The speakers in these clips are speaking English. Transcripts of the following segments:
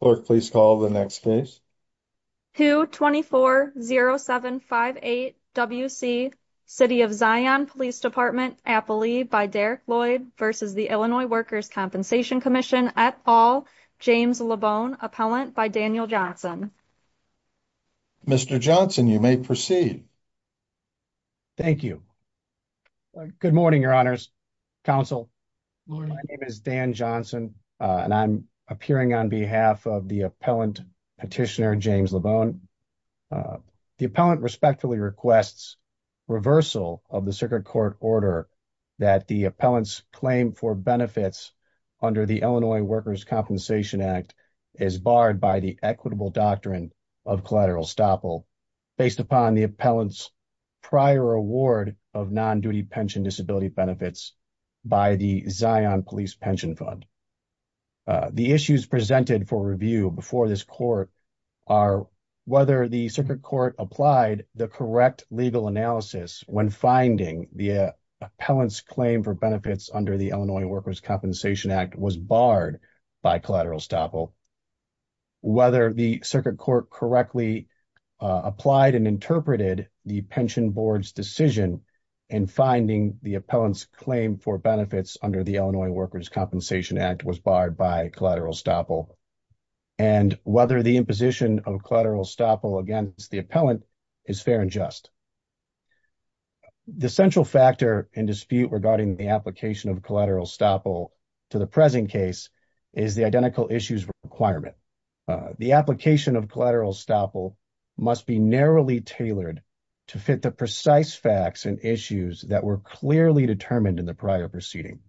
Clerk, please call the next case. 2-2-4-0-7-5-8-W-C, City of Zion Police Dept, Appalee, by Derek Lloyd v. the Illinois Workers' Compensation Comm'n, et al., James Lebone, Appellant, by Daniel Johnson. Mr. Johnson, you may proceed. Thank you. Good morning, Your Honors. Counsel, my name is Dan Johnson and I'm appearing on behalf of the Appellant Petitioner, James Lebone. The Appellant respectfully requests reversal of the Circuit Court order that the Appellant's claim for benefits under the Illinois Workers' Compensation Act is barred by the equitable doctrine of collateral estoppel based upon the Appellant's prior award of non-duty pension disability benefits by the Zion Police Pension Fund. The issues presented for review before this Court are whether the Circuit Court applied the correct legal analysis when finding the Appellant's claim for benefits under the Illinois Workers' Compensation Act was barred by collateral estoppel, whether the Circuit Court correctly applied and interpreted the Pension Board's decision in finding the Appellant's claim for benefits under the Illinois Workers' Compensation Act was barred by collateral estoppel, and whether the imposition of collateral estoppel against the Appellant is fair and just. The central factor in dispute regarding the application of collateral estoppel to the present case is the identical issues requirement. The application of collateral estoppel must be narrowly tailored to fit the precise facts and issues that were clearly determined in the prior proceeding.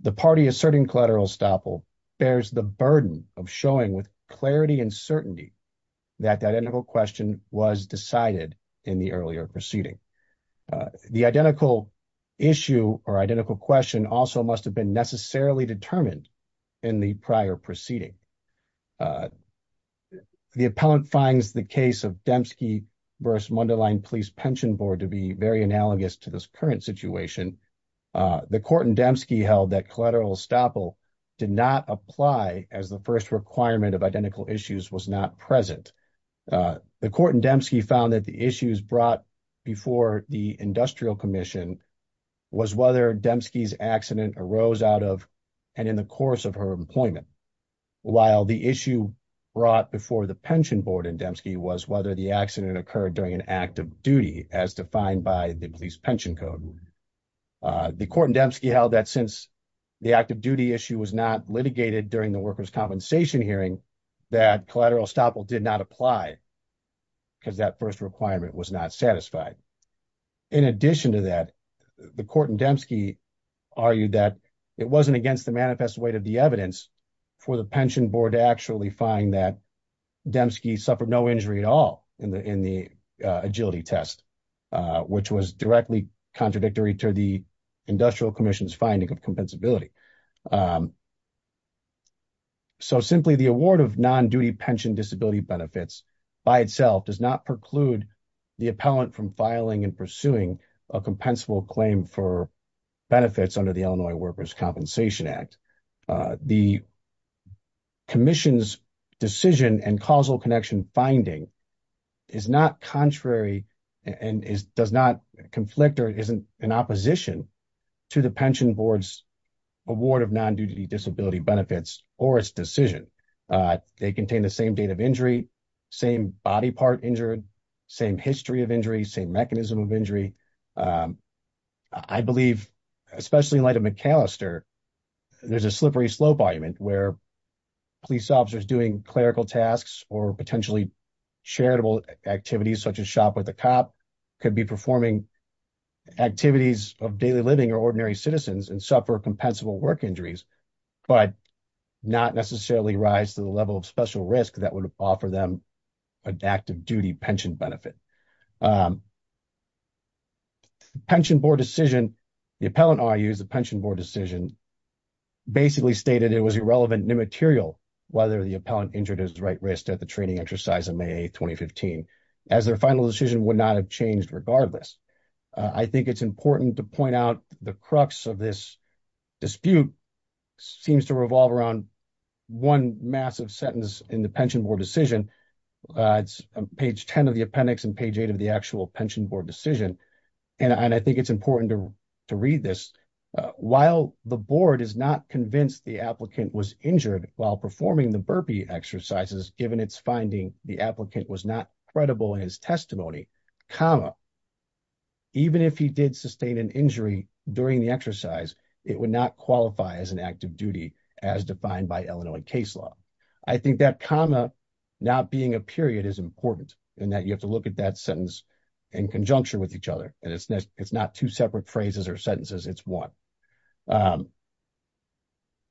The party asserting collateral estoppel bears the burden of showing with clarity and certainty that the identical question was decided in the earlier proceeding. The identical issue or identical question also must have been necessarily determined in the prior proceeding. The Appellant finds the case of Dembski v. Mundelein Police Pension Board to be very analogous to this current situation. The court in Dembski held that collateral estoppel did not apply as the first requirement of identical issues was not present. The court in Dembski found that the issues brought before the Industrial Commission was whether Dembski's accident arose out of and in the course of her employment, while the issue brought before the Pension Board in Dembski was whether the accident occurred during an act of duty as defined by the Police Pension Code. The court in Dembski held that since the act of duty issue was not litigated during the workers' compensation hearing, that collateral estoppel did not apply because that first requirement was not satisfied. In addition to that, the court in Dembski argued that it wasn't against the manifest weight of the evidence for the Pension Board to actually find that Dembski suffered no injury at all in the agility test, which was directly contradictory to the Industrial Commission's finding of compensability. So simply, the award of non-duty pension disability benefits by itself does not preclude the appellant from filing and pursuing a compensable claim for benefits under the Illinois Workers' Compensation Act. The Commission's decision and causal connection finding is not contrary and does not conflict or is in opposition to the Pension Board's award of non-duty disability benefits or its decision. They contain the same date of injury, same body part injured, same history of injury, same mechanism of injury. I believe, especially in light of McAllister, there's a slippery slope argument where police officers doing clerical tasks or potentially charitable activities such as shop with a cop could be performing activities of daily living or ordinary citizens and suffer compensable work injuries, but not necessarily rise to the level of special risk that would offer them an active duty pension benefit. The Pension Board decision, the appellant argues the Pension Board decision basically stated it was irrelevant and immaterial whether the appellant injured his right wrist at the training exercise in May 2015, as their final decision would not have changed regardless. I think it's important to point out the crux of this dispute seems to revolve around one massive sentence in the Pension Board decision. It's on page 10 of the appendix and page 8 of the actual Pension Board decision. And I think it's important to read this. While the board is not convinced the applicant was injured while performing the burpee exercises, given its finding the applicant was not credible in his testimony, comma, even if he did sustain an injury during the exercise, it would not qualify as an active duty as defined by Illinois case law. I think that comma not being a period is important in that you have to look at that sentence in conjuncture with each other. And it's not two separate phrases or sentences, it's one.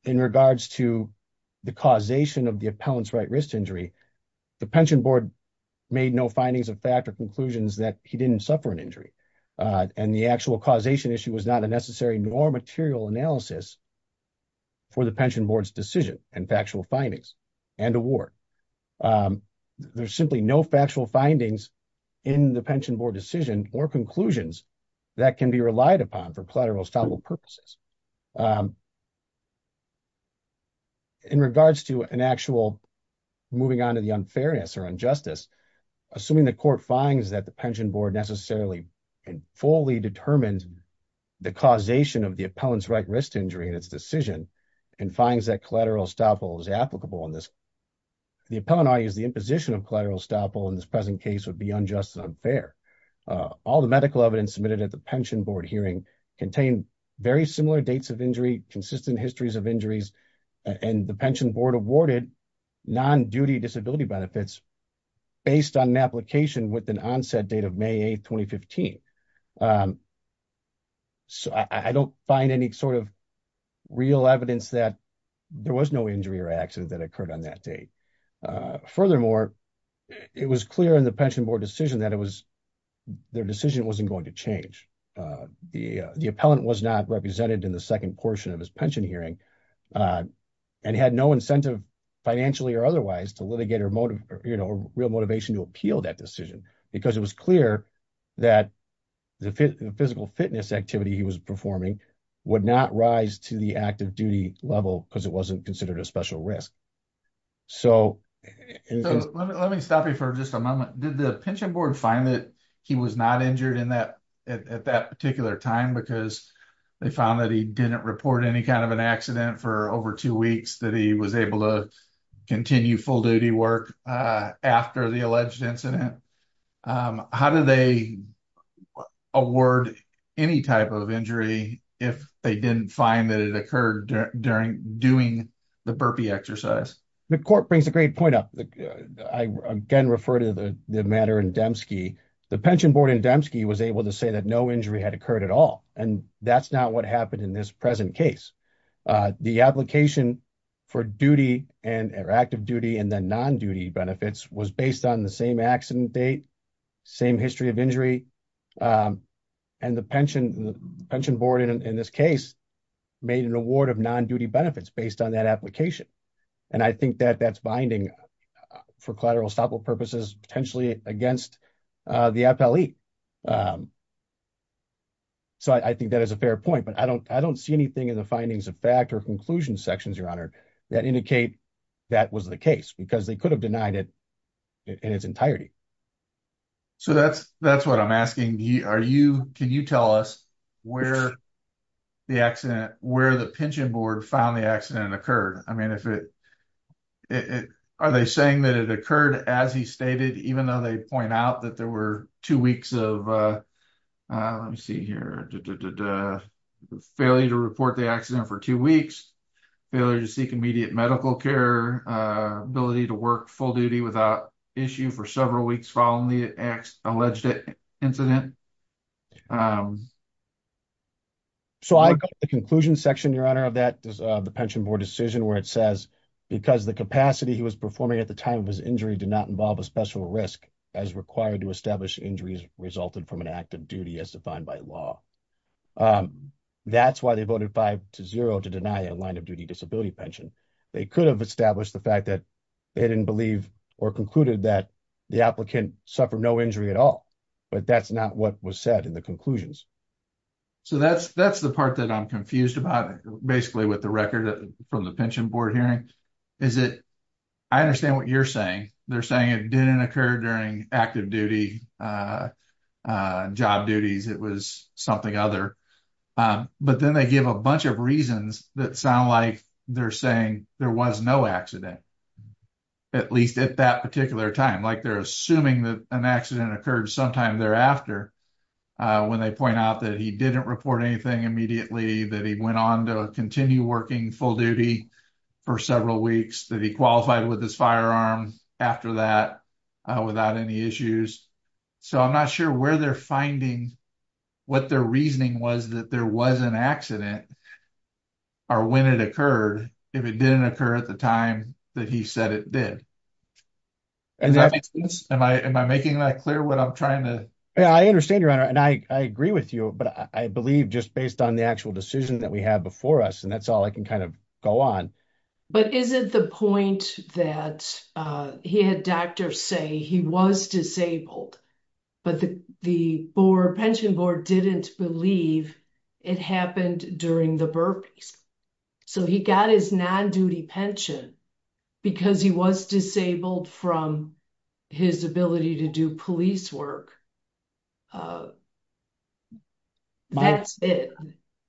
In regards to the causation of the appellant's right wrist injury, the Pension Board made no findings of fact or conclusions that he didn't suffer an injury. And the actual causation issue was not a necessary nor material analysis for the Pension Board's decision and factual findings and award. Um, there's simply no factual findings in the Pension Board decision or conclusions that can be relied upon for collateral estoppel purposes. In regards to an actual moving on to the unfairness or injustice, assuming the court finds that the Pension Board necessarily fully determined the causation of the appellant's right wrist injury in its decision and finds that collateral estoppel is applicable in this the appellant argues the imposition of collateral estoppel in this present case would be unjust and unfair. All the medical evidence submitted at the Pension Board hearing contained very similar dates of injury, consistent histories of injuries, and the Pension Board awarded non-duty disability benefits based on an application with an onset date of May 8, 2015. So I don't find any sort of real evidence that there was no injury or accident that occurred on that date. Furthermore, it was clear in the Pension Board decision that it was their decision wasn't going to change. The appellant was not represented in the second portion of his pension hearing and had no incentive financially or otherwise to litigate or motive, you know, real motivation to appeal that decision because it was clear that the physical fitness activity he was performing would not rise to the active duty level because it wasn't considered a special risk. So let me stop you for just a moment. Did the Pension Board find that he was not injured in that at that particular time because they found that he didn't report any kind of an accident for over two weeks that he was able to continue full duty work after the alleged incident? How do they award any type of injury if they didn't find that it occurred during doing the burpee exercise? The court brings a great point up. I again refer to the matter in Dembski. The Pension Board in Dembski was able to say that no injury had occurred at all, and that's not what happened in this present case. The application for duty and active duty and then non-duty benefits was based on the same accident date, same history of injury, and the Pension Board in this case made an award of non-duty benefits based on that application. And I think that that's binding for collateral estoppel purposes potentially against the FLE. So I think that is a fair point, but I don't see anything in the findings of fact or conclusion sections, Your Honor, that indicate that was the case because they could have denied it in its entirety. So that's what I'm asking. Can you tell us where the accident, where the Pension Board found the accident occurred? I mean, are they saying that it occurred as he stated, even though they point out that there were two weeks of, let me see here, failure to report the accident for two weeks, failure to seek immediate medical care, ability to work full duty without issue for several weeks following the alleged incident? So I got the conclusion section, Your Honor, of that, the Pension Board decision where it says, because the capacity he was performing at the time of his injury did not involve a special risk as required to establish injuries resulted from an active duty as defined by law. That's why they voted five to zero to deny a line of duty disability pension. They could have established the fact that they didn't believe or concluded that the applicant suffered no injury at all, but that's not what was said in the conclusions. So that's the part that I'm confused about, basically, with the record from the Pension Board hearing, is that I understand what you're saying. They're saying it didn't occur during active duty, job duties. It was something other. But then they give a bunch of reasons that sound like they're saying there was no accident, at least at that particular time. Like they're assuming that an accident occurred sometime thereafter when they point out that he didn't report anything immediately, that he went on to continue working full duty for several weeks, that he qualified with his firearm after that without any issues. So I'm not sure where they're finding what their reasoning was that there was an accident or when it occurred, if it didn't occur at the time that he said it did. Am I making that clear what I'm trying to? Yeah, I understand, Your Honor, and I agree with you, but I believe just based on the actual decision that we have before us, and that's all I can kind of go on. But is it the point that he had doctors say he was disabled, but the Pension Board didn't believe it happened during the burpees? So he got his non-duty pension because he was disabled from his ability to do police work. That's it.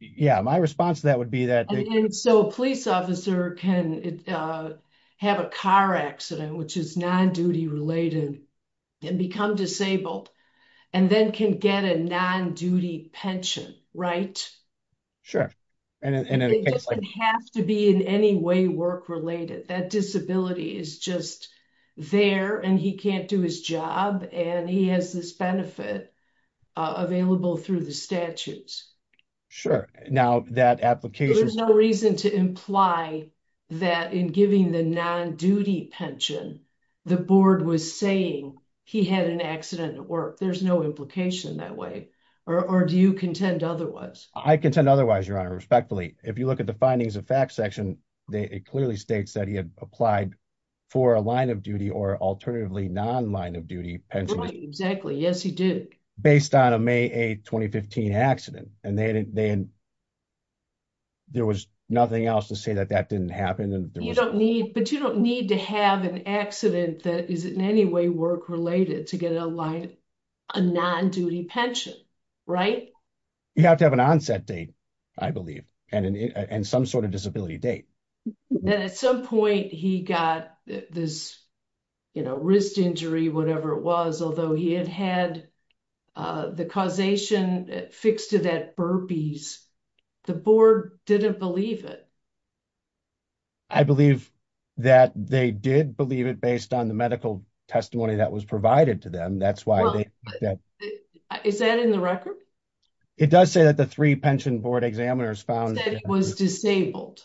Yeah, my response to that would be that. So a police officer can have a car accident, which is non-duty related, and become disabled and then can get a non-duty pension, right? Sure. And it doesn't have to be in any way work-related. That disability is just there, and he can't do his job, and he has this benefit available through the statutes. Sure. Now, that application... There's no reason to imply that in giving the non-duty pension, the board was saying he had an accident at work. There's no implication that way. Or do you contend otherwise? I contend otherwise, Your Honor, respectfully. If you look at the findings of fact section, it clearly states that he had applied for a line-of-duty or alternatively non-line-of-duty pension. Exactly. Yes, he did. Based on a May 8, 2015 accident, and there was nothing else to say that that didn't happen. But you don't need to have an accident that is in any way work-related to get a non-duty pension, right? You have to have an onset date, I believe, and some sort of disability date. Then at some point, he got this, you know, wrist injury, whatever it was, although he had had the causation fixed to that burpees. The board didn't believe it. I believe that they did believe it based on the medical testimony that was provided to them. That's why they... Is that in the record? It does say that the three pension board examiners found... That he was disabled.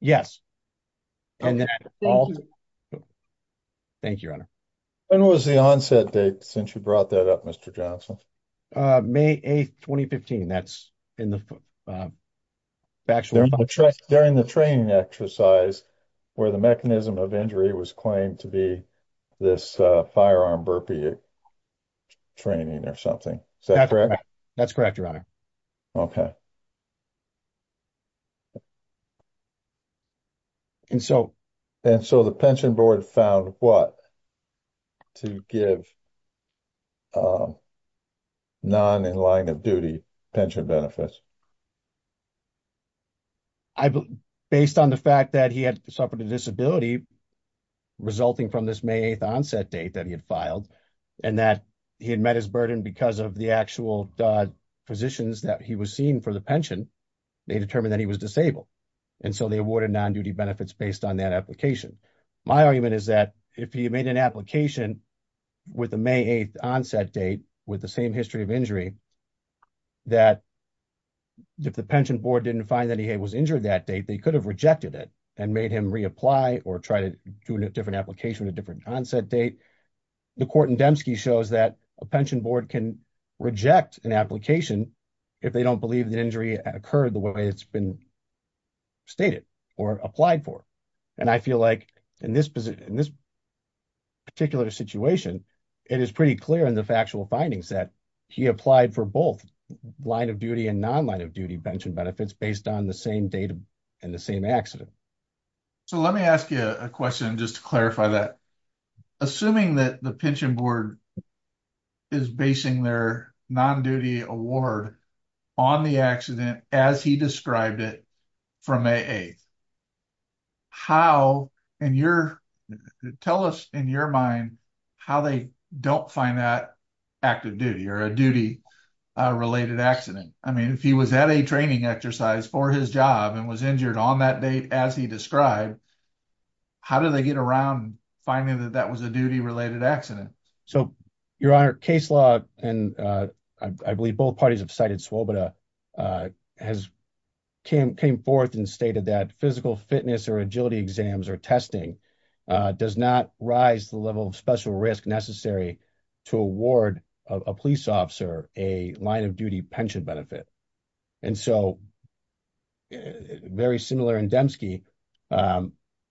Yes. Thank you, Your Honor. When was the onset date since you brought that up, Mr. Johnson? May 8, 2015. During the training exercise where the mechanism of injury was claimed to be this firearm burpee training or something. That's correct, Your Honor. Okay. And so... And so the pension board found what to give non-in-line-of-duty pension benefits? I believe, based on the fact that he had suffered a disability resulting from this May 8 onset date that he had filed, and that he had met his burden because of the actual positions that he was seen for the pension, they determined that he was disabled. And so they awarded non-duty benefits based on that application. My argument is that if he made an application with the May 8 onset date with the same history of injury, that if the pension board didn't find that he was injured that date, they could have rejected it and made him reapply or try to do a different application at a different onset date. The court in Demske shows that a pension board can reject an application if they don't believe the injury occurred the way it's been stated or applied for. And I feel like in this particular situation, it is pretty clear in the factual findings that he applied for both line-of-duty and non-line-of-duty pension benefits based on the same date and the same accident. So let me ask you a question just to clarify that. Assuming that the pension board is basing their non-duty award on the accident as he described it from May 8, tell us in your mind how they don't find that active duty or a duty-related accident. I mean, if he was at a training exercise for his job and was injured on that date as he described, how did they get around finding that that was a duty-related accident? So, Your Honor, case law, and I believe both parties have cited Swoboda, has came forth and stated that physical fitness or agility exams or testing does not rise the level of special risk necessary to award a police officer a line-of-duty pension benefit. And so, very similar in Dembski,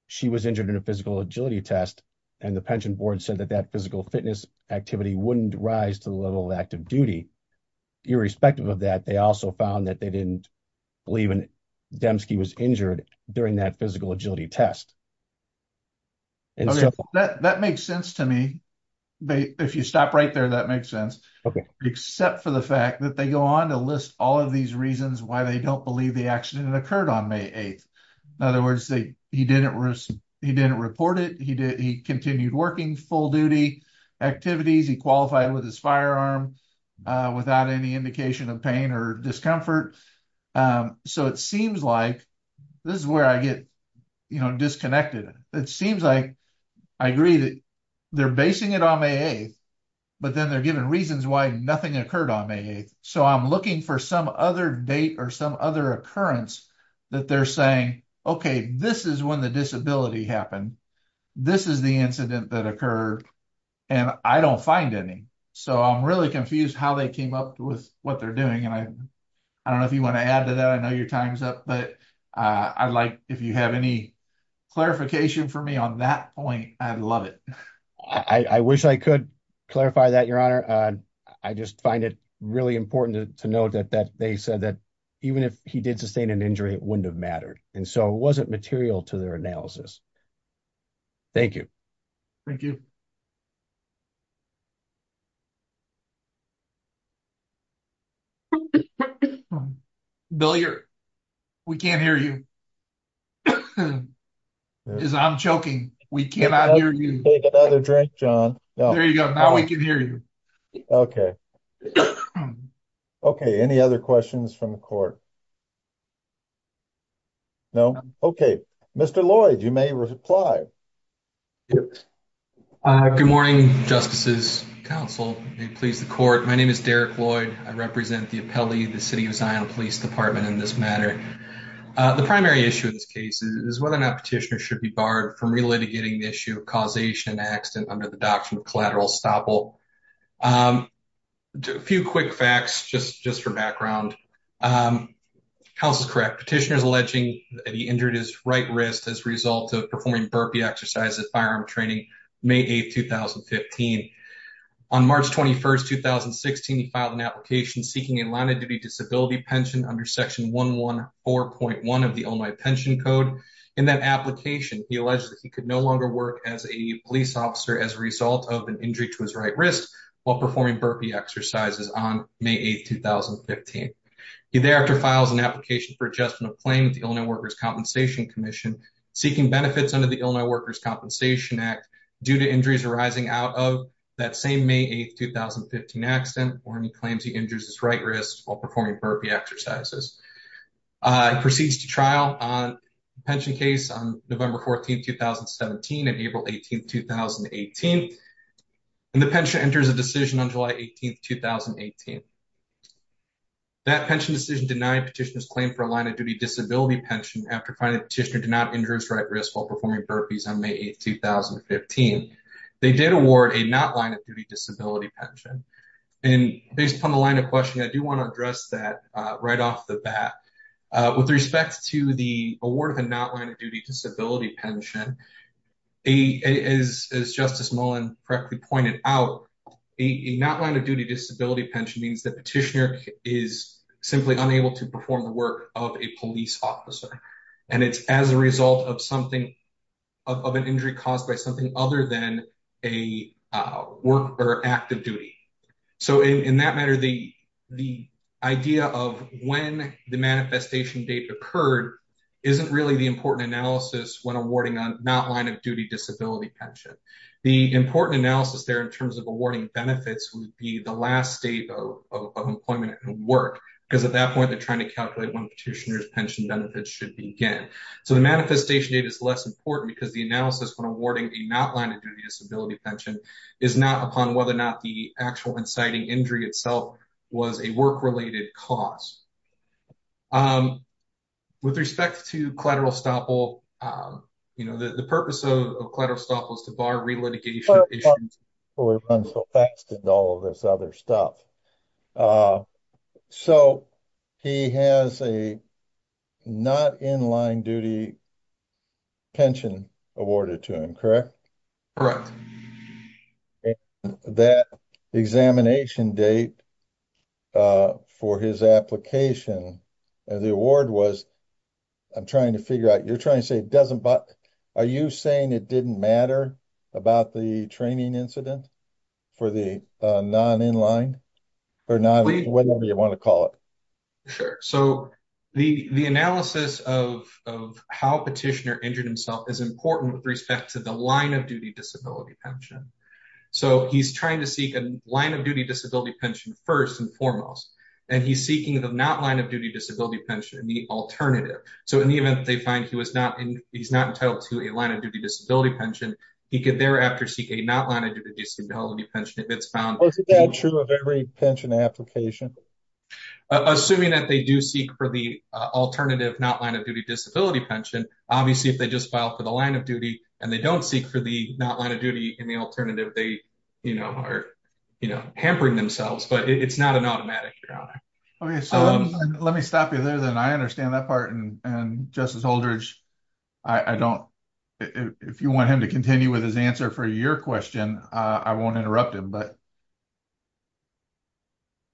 she was injured in a physical agility test and the pension board said that that physical fitness activity wouldn't rise to the level of active duty. Irrespective of that, they also found that they didn't believe in Dembski was injured during that physical agility test. That makes sense to me. If you stop right there, that makes sense. Except for the fact that they go on to list all of these reasons why they don't believe the accident occurred on May 8. In other words, he didn't report it, he continued working full-duty activities, he qualified with his firearm without any indication of pain or discomfort. So, it seems like this is where I get disconnected. It seems like I agree that they're basing it on May 8, but then they're giving reasons why nothing occurred on May 8. So, I'm looking for some other date or some other occurrence that they're saying, okay, this is when the disability happened, this is the incident that occurred, and I don't find any. So, I'm really confused how they came up with what they're doing and I don't know if you want to add to that. I know your time's up, but I'd like if you have any clarification for me on that point, I'd love it. I wish I could clarify that, Your Honor. I just find it really important to note that they said that even if he did sustain an injury, it wouldn't have mattered. And so, it wasn't material to their analysis. Thank you. Thank you. Bill, we can't hear you. I'm choking. We cannot hear you. There you go. Now we can hear you. Okay. Any other questions from the court? No? Okay. Mr. Lloyd, you may reply. Yes. Good morning, Justices, counsel. May it please the court. My name is Derek Lloyd. I represent the appellee of the City of Zion Police Department in this matter. The primary issue in this case is whether or not petitioners should be barred from relitigating the issue of causation of an accident under the doctrine of collateral estoppel. A few quick facts, just for background. Counsel is correct. Petitioner is alleging that he injured his right wrist as a result of performing burpee exercises at firearm training May 8, 2015. On March 21, 2016, he filed an application seeking a line-of-duty disability pension under Section 114.1 of the Illinois Pension Code. In that application, he alleged that he could no longer work as a police officer as a result of an injury to his right wrist while performing burpee exercises on May 8, 2015. He thereafter files an application for adjustment of claim with the Illinois Workers' Compensation Commission, seeking benefits under the Illinois Workers' Compensation Act due to injuries arising out of that same May 8, 2015 accident, where he claims he injured his right wrist while performing burpee exercises. He proceeds to trial on the pension case on November 14, 2017 and April 18, 2018. And the pension enters a decision on July 18, 2018. That pension decision denied petitioner's claim for a line-of-duty disability pension after finding the petitioner did not injure his right wrist while performing burpees on May 8, 2015. They did award a not-line-of-duty disability pension. And based upon the line of questioning, I do want to address that right off the bat. With respect to the award of a not-line-of-duty disability pension, as Justice Mullen correctly out, a not-line-of-duty disability pension means the petitioner is simply unable to perform the work of a police officer. And it's as a result of something, of an injury caused by something other than a work or active duty. So in that matter, the idea of when the manifestation date occurred isn't really the important analysis when awarding a not-line-of-duty disability pension. The important analysis there in terms of awarding benefits would be the last state of employment and work, because at that point, they're trying to calculate when petitioner's pension benefits should begin. So the manifestation date is less important because the analysis when awarding a not-line-of-duty disability pension is not upon whether or not the actual inciting injury itself was a work-related cause. With respect to collateral estoppel, you know, the purpose of collateral estoppel is to bar re-litigation issues before we run so fast into all of this other stuff. So he has a not-in-line-of-duty pension awarded to him, correct? Correct. And that examination date for his application, the award was, I'm trying to figure out, you're trying to say it doesn't, are you saying it didn't matter about the training incident for the non-in-line, or whatever you want to call it? Sure. So the analysis of how petitioner injured himself is important with respect to the line-of-duty disability pension. So he's trying to seek a line-of-duty disability pension first and foremost, and he's seeking the not-line-of-duty disability pension, the alternative. So in the event they find he's not entitled to a line-of-duty disability pension, he could thereafter seek a not-line-of-duty disability pension if it's found— Is that true of every pension application? Assuming that they do seek for the alternative not-line-of-duty disability pension, obviously they just file for the line-of-duty, and they don't seek for the not-line-of-duty in the alternative. They are hampering themselves, but it's not an automatic. Okay, so let me stop you there, then. I understand that part, and Justice Holdridge, if you want him to continue with his answer for your question, I won't interrupt him.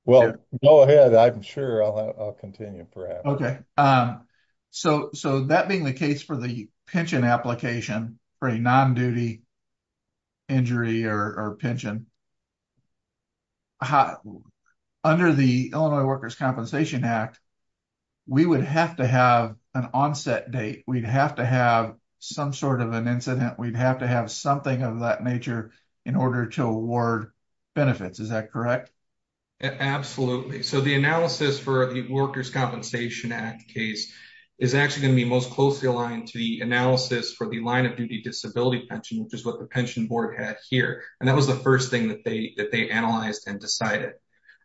Well, go ahead. I'm sure I'll continue, perhaps. Okay, so that being the case for the pension application for a non-duty injury or pension, under the Illinois Workers' Compensation Act, we would have to have an onset date. We'd have to have some sort of an incident. We'd have to have something of that nature in order to award benefits. Is that correct? Absolutely. So the analysis for the Workers' Compensation Act case is actually going to be most closely aligned to the analysis for the line-of-duty disability pension, which is what the pension board had here, and that was the first thing that they analyzed and decided.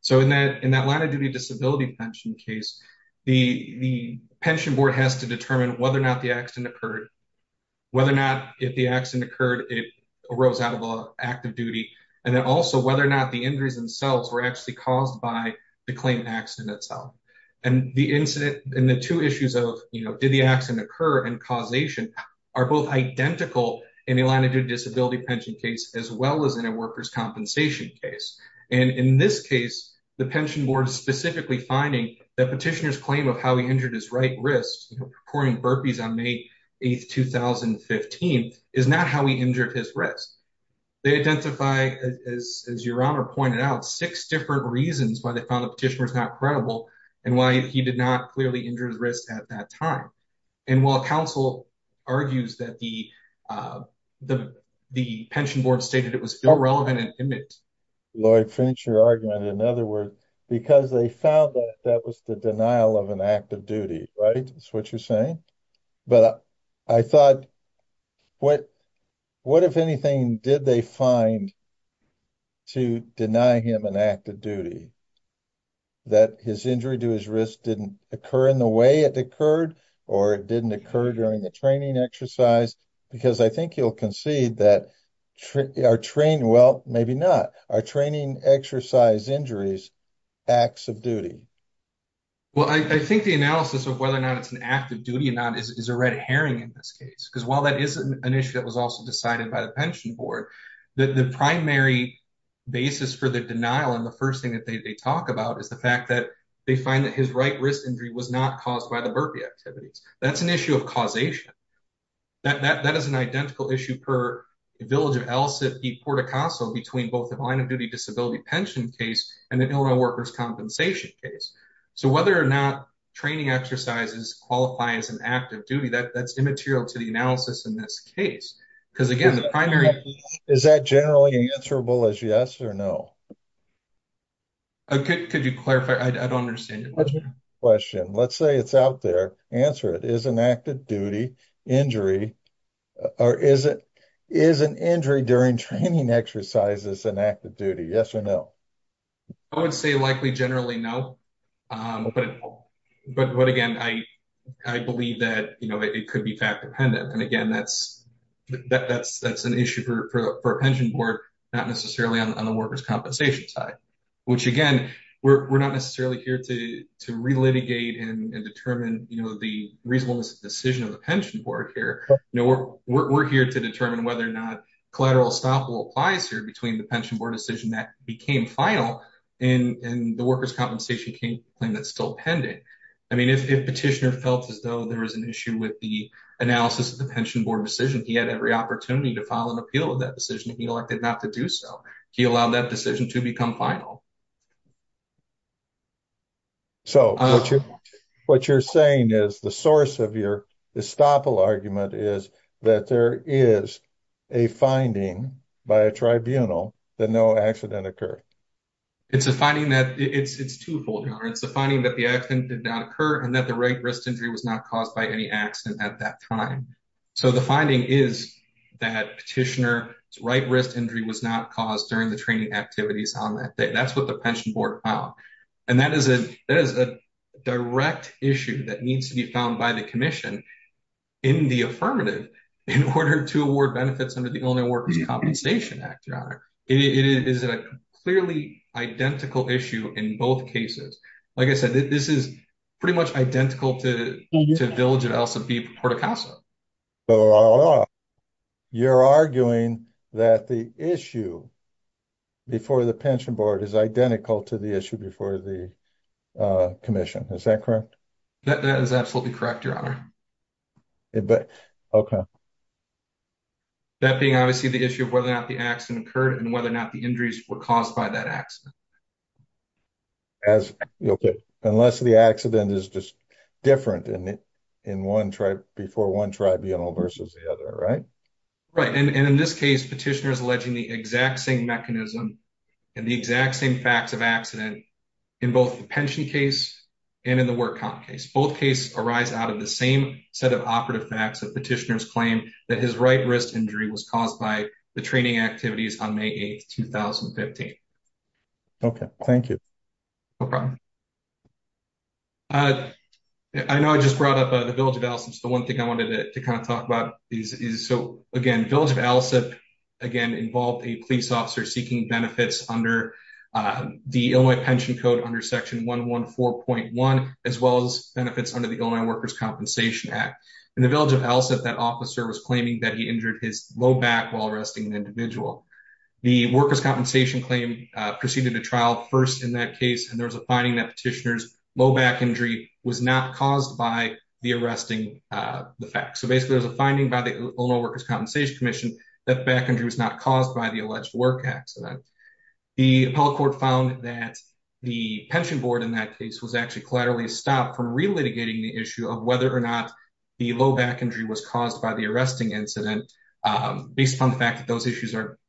So in that line-of-duty disability pension case, the pension board has to determine whether or not the accident occurred, whether or not, if the accident occurred, it arose out of the act of duty, and then also whether or not the injuries themselves were actually caused by the claim accident itself. And the two issues of did the accident occur and causation are both identical in a line-of-duty disability pension case as well as in a workers' compensation case. And in this case, the pension board is specifically finding that petitioner's claim of how he injured his right wrist, performing burpees on May 8, 2015, is not how he injured his wrist. They identify, as Your Honor pointed out, six different reasons why they found the petitioner was not credible and why he did not clearly injure his wrist at that time. And while counsel argues that the pension board stated it was irrelevant and imminent. Lloyd, finish your argument. In other words, because they found that that was the denial of an act of duty, right? That's what you're saying. But I thought, what if anything did they find to deny him an act of duty? That his injury to his wrist didn't occur in the way it occurred or it didn't occur during the training exercise? Because I think you'll concede that our training, well, maybe not, our training exercise injuries, acts of duty. Well, I think the analysis of whether or not it's an act of duty or not is a red herring in this case. Because while that is an issue that was also decided by the pension board, the primary basis for the denial and the first thing that they talk about is the fact that they find that his right wrist injury was not caused by the burpee activities. That's an issue of causation. That is an identical issue per village of El Cid, Porto Caso, between both the line disability pension case and the Illinois workers' compensation case. So whether or not training exercises qualify as an act of duty, that's immaterial to the analysis in this case. Because again, the primary- Is that generally answerable as yes or no? Could you clarify? I don't understand your question. Let's say it's out there. Answer it. Is an injury during training exercises an act of duty? Yes or no? I would say likely generally no. But again, I believe that it could be fact-dependent. And again, that's an issue for a pension board, not necessarily on the workers' compensation side, which again, we're not necessarily here to relitigate and determine the reasonableness of the decision of the pension board here. We're here to determine whether or not collateral estoppel applies here between the pension board decision that became final and the workers' compensation claim that's still pending. I mean, if Petitioner felt as though there was an issue with the analysis of the pension board decision, he had every opportunity to file an appeal of that decision. He elected not to do so. He allowed that decision to become final. So, what you're saying is the source of your estoppel argument is that there is a finding by a tribunal that no accident occurred. It's a finding that it's twofold. It's the finding that the accident did not occur and that the right wrist injury was not caused by any accident at that time. So, the finding is that Petitioner's right wrist injury was not caused during the training activities on that day. That's what the pension board filed. And that is a direct issue that needs to be found by the commission in the affirmative in order to award benefits under the Illness Workers' Compensation Act. It is a clearly identical issue in both cases. Like I said, this is pretty much identical to the village of El Sabib, Puerto Caso. So, you're arguing that the issue before the pension board is identical to the issue before the commission. Is that correct? That is absolutely correct, Your Honor. Okay. That being, obviously, the issue of whether or not the accident occurred and whether or not the injuries were caused by that accident. Unless the accident is just different before one tribunal versus the other, right? Right. And in this case, Petitioner is alleging the exact same mechanism and the exact same facts of accident in both the pension case and in the work comp case. Both cases arise out of the same set of operative facts that Petitioner's claim that his right wrist injury was caused by the training activities on May 8, 2015. Okay, thank you. No problem. I know I just brought up the village of El Sabib. The one thing I wanted to kind of talk about is, so again, village of El Sabib, again, involved a police officer seeking benefits under the Illinois Pension Code under Section 114.1, as well as benefits under the Illinois Workers' Compensation Act. In the village of El Sabib, that officer was claiming that he injured his low back while arresting an individual. The workers' compensation claim proceeded to trial first in that case, and there was a finding that Petitioner's low back injury was not caused by the arresting the fact. So basically, there's a finding by the Illinois Workers' Compensation Commission that back injury was not caused by the alleged work accident. The appellate court found that the pension board in that case was actually collaterally stopped from relitigating the issue of whether or not the low back injury was caused by the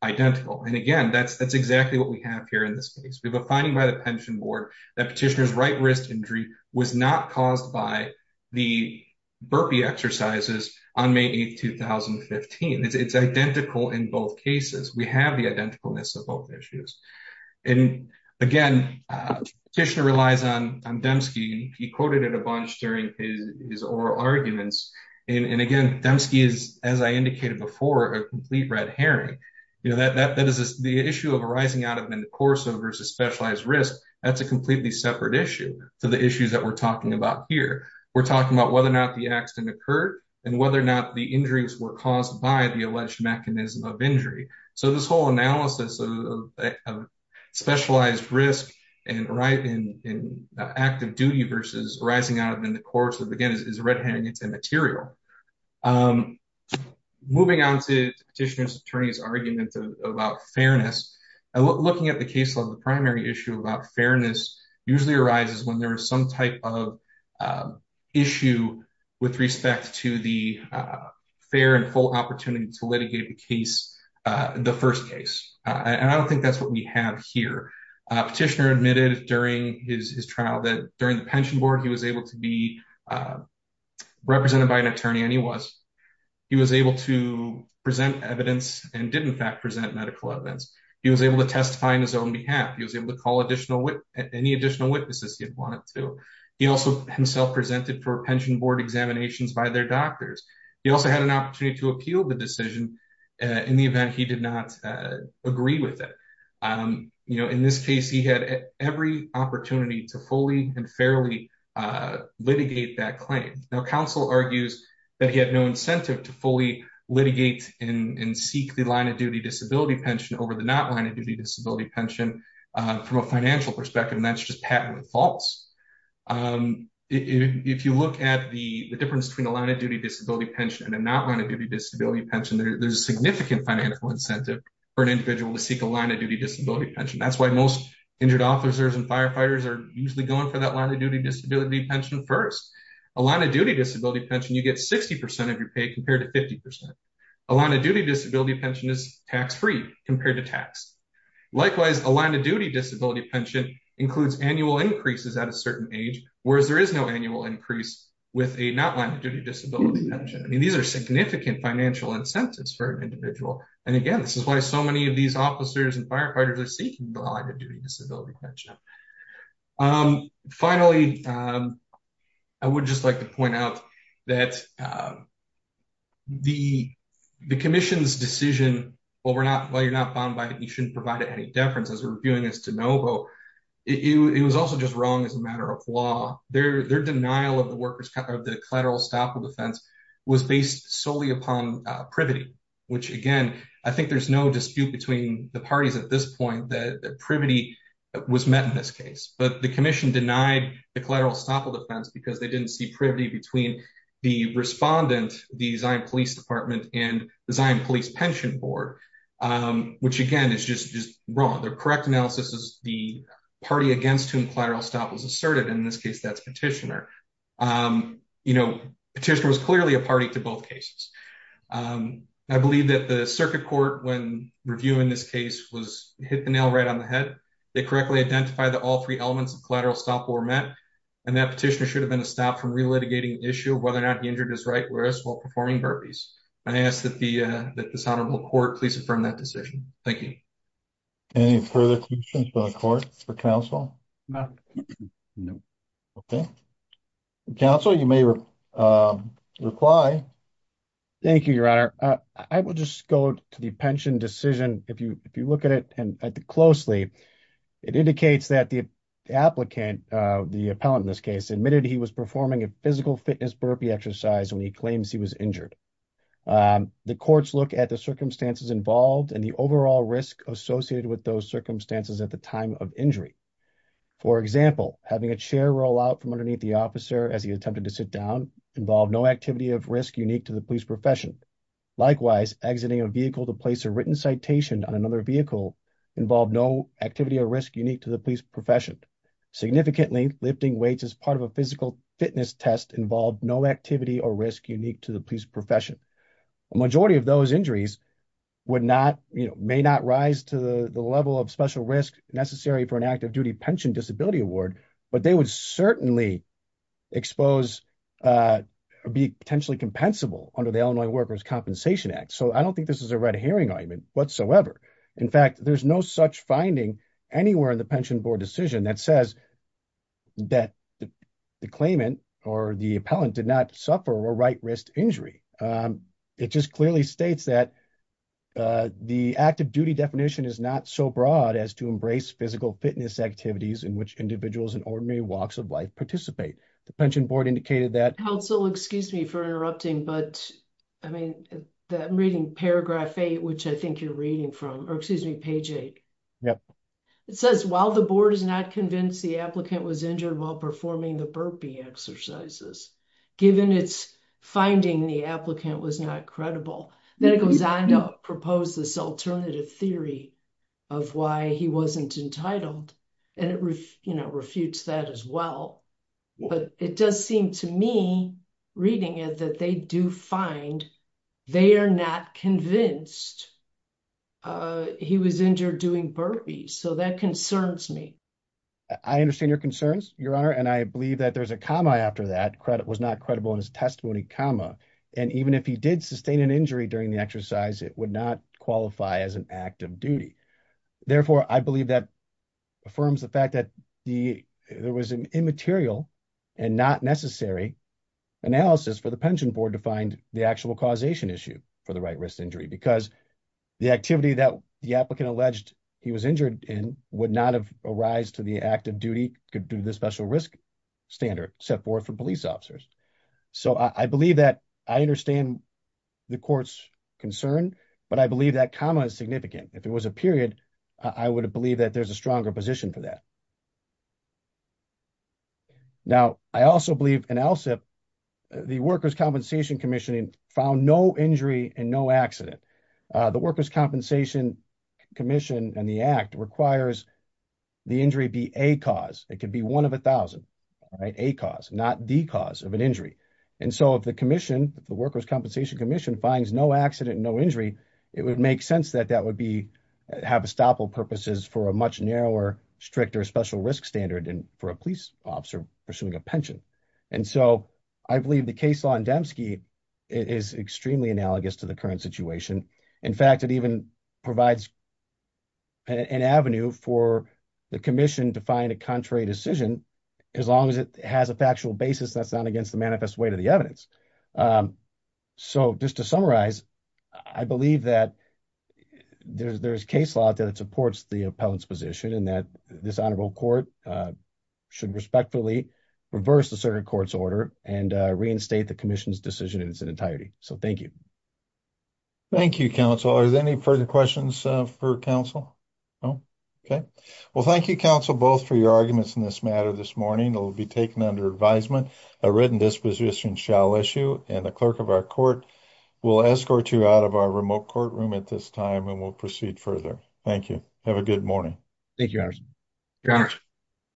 identical. And again, that's exactly what we have here in this case. We have a finding by the pension board that Petitioner's right wrist injury was not caused by the burpee exercises on May 8, 2015. It's identical in both cases. We have the identicalness of both issues. And again, Petitioner relies on Dembski. He quoted it a bunch during his oral arguments. And again, Dembski is, as I indicated before, a complete red herring. That is the issue of arising out of in the course of versus specialized risk. That's a completely separate issue to the issues that we're talking about here. We're talking about whether or not the accident occurred and whether or not the injuries were caused by the alleged mechanism of injury. So this whole analysis of specialized risk and right in active duty versus arising out of in the course of again is red herring. It's immaterial. I'm moving on to Petitioner's attorney's argument about fairness and looking at the caseload. The primary issue about fairness usually arises when there is some type of issue with respect to the fair and full opportunity to litigate the case, the first case. And I don't think that's what we have here. Petitioner admitted during his trial that during the pension board, he was able to be represented by an attorney, and he was. He was able to present evidence and did, in fact, present medical evidence. He was able to testify on his own behalf. He was able to call any additional witnesses he wanted to. He also himself presented for pension board examinations by their doctors. He also had an opportunity to appeal the decision in the event he did not agree with it. In this case, he had every opportunity to fully and fairly litigate that claim. Now, counsel argues that he had no incentive to fully litigate and seek the line of duty disability pension over the not line of duty disability pension from a financial perspective, and that's just patently false. If you look at the difference between the line of duty disability pension and not line of duty disability pension, there's a significant financial incentive for an individual to seek line of duty disability pension. That's why most injured officers and firefighters are usually going for that line of duty disability pension first. A line of duty disability pension, you get 60 percent of your pay compared to 50 percent. A line of duty disability pension is tax free compared to tax. Likewise, a line of duty disability pension includes annual increases at a certain age, whereas there is no annual increase with a not line of duty disability pension. I mean, these are significant financial incentives for an individual, and again, this is why so many of these officers and firefighters are seeking the line of duty disability pension. Finally, I would just like to point out that the commission's decision, well, you're not bound by it, you shouldn't provide it any deference as we're reviewing this to know, but it was also just wrong as a matter of law. Their denial of the collateral estoppel defense was based solely upon privity, which, again, I think there's no dispute between the parties at this point that privity was met in this case. But the commission denied the collateral estoppel defense because they didn't see privity between the respondent, the Zion Police Department, and the Zion Police Pension Board, which, again, is just wrong. Their correct analysis is the party against whom collateral estoppel was asserted. In this case, that's Petitioner. Petitioner was clearly a party to both cases. I believe that the circuit court, when reviewing this case, hit the nail right on the head. They correctly identified that all three elements of collateral estoppel were met, and that Petitioner should have been stopped from relitigating the issue of whether or not he injured his right wrist while performing burpees. I ask that this Honorable Court please affirm that decision. Thank you. Any further questions for the court, for counsel? Okay. Okay. Counsel, you may reply. Thank you, Your Honor. I will just go to the pension decision. If you look at it closely, it indicates that the applicant, the appellant in this case, admitted he was performing a physical fitness burpee exercise when he claims he was injured. The courts look at the circumstances involved and the overall risk associated with those circumstances at the time of injury. For example, having a chair roll out from underneath the officer as he attempted to sit down involved no activity of risk unique to the police profession. Likewise, exiting a vehicle to place a written citation on another vehicle involved no activity or risk unique to the police profession. Significantly, lifting weights as part of a physical fitness test involved no activity or risk unique to the police profession. A majority of those injuries would not, you know, may not rise to the level of special risk necessary for an active duty pension disability award, but they would certainly expose or be potentially compensable under the Illinois Workers' Compensation Act. So I don't think this is a red herring argument whatsoever. In fact, there's no such finding anywhere in the pension board decision that says that the claimant or the appellant did not suffer a right wrist injury. It just clearly states that the active duty definition is not so broad as to embrace physical fitness activities in which individuals in ordinary walks of life participate. The pension board indicated that. Counsel, excuse me for interrupting, but I mean, I'm reading paragraph eight, which I think you're reading from, or excuse me, page eight. Yep. It says, while the board is not convinced the applicant was injured while performing the burpee exercises, given its finding, the applicant was not credible. Then it goes on to propose this alternative theory of why he wasn't entitled. And it, you know, refutes that as well. But it does seem to me reading it that they do find they are not convinced he was injured doing burpees. So that concerns me. I understand your concerns, Your Honor, and I believe that there's a comma after that credit was not credible in his testimony, comma. And even if he did sustain an injury during the exercise, it would not qualify as an active duty. Therefore, I believe that affirms the fact that there was an immaterial and not necessary analysis for the pension board to find the actual causation issue for the right wrist because the activity that the applicant alleged he was injured in would not have arised to the active duty could do the special risk standard set forth for police officers. So I believe that I understand the court's concern, but I believe that comma is significant. If it was a period, I would believe that there's a stronger position for that. Now, I also believe in ALSEP, the Workers' Compensation Commission found no injury and accident. The Workers' Compensation Commission and the act requires the injury be a cause. It could be one of a thousand, a cause, not the cause of an injury. And so if the commission, the Workers' Compensation Commission finds no accident, no injury, it would make sense that that would be have a stop all purposes for a much narrower, stricter, special risk standard and for a police officer pursuing a pension. And so I believe the case law in Demske is extremely analogous to the current situation. In fact, it even provides an avenue for the commission to find a contrary decision as long as it has a factual basis that's not against the manifest way to the evidence. So just to summarize, I believe that there's case law that supports the appellant's position and that this honorable court should respectfully reverse the circuit court's order and reinstate the commission's decision in its entirety. So thank you. Thank you, counsel. Are there any further questions for counsel? No? Okay. Well, thank you, counsel, both for your arguments in this matter this morning. It will be taken under advisement. A written disposition shall issue and the clerk of our court will escort you out of our remote courtroom at this time and we'll proceed further. Thank you. Have a good morning. Thank you, Harrison. Thank you, Your Honor.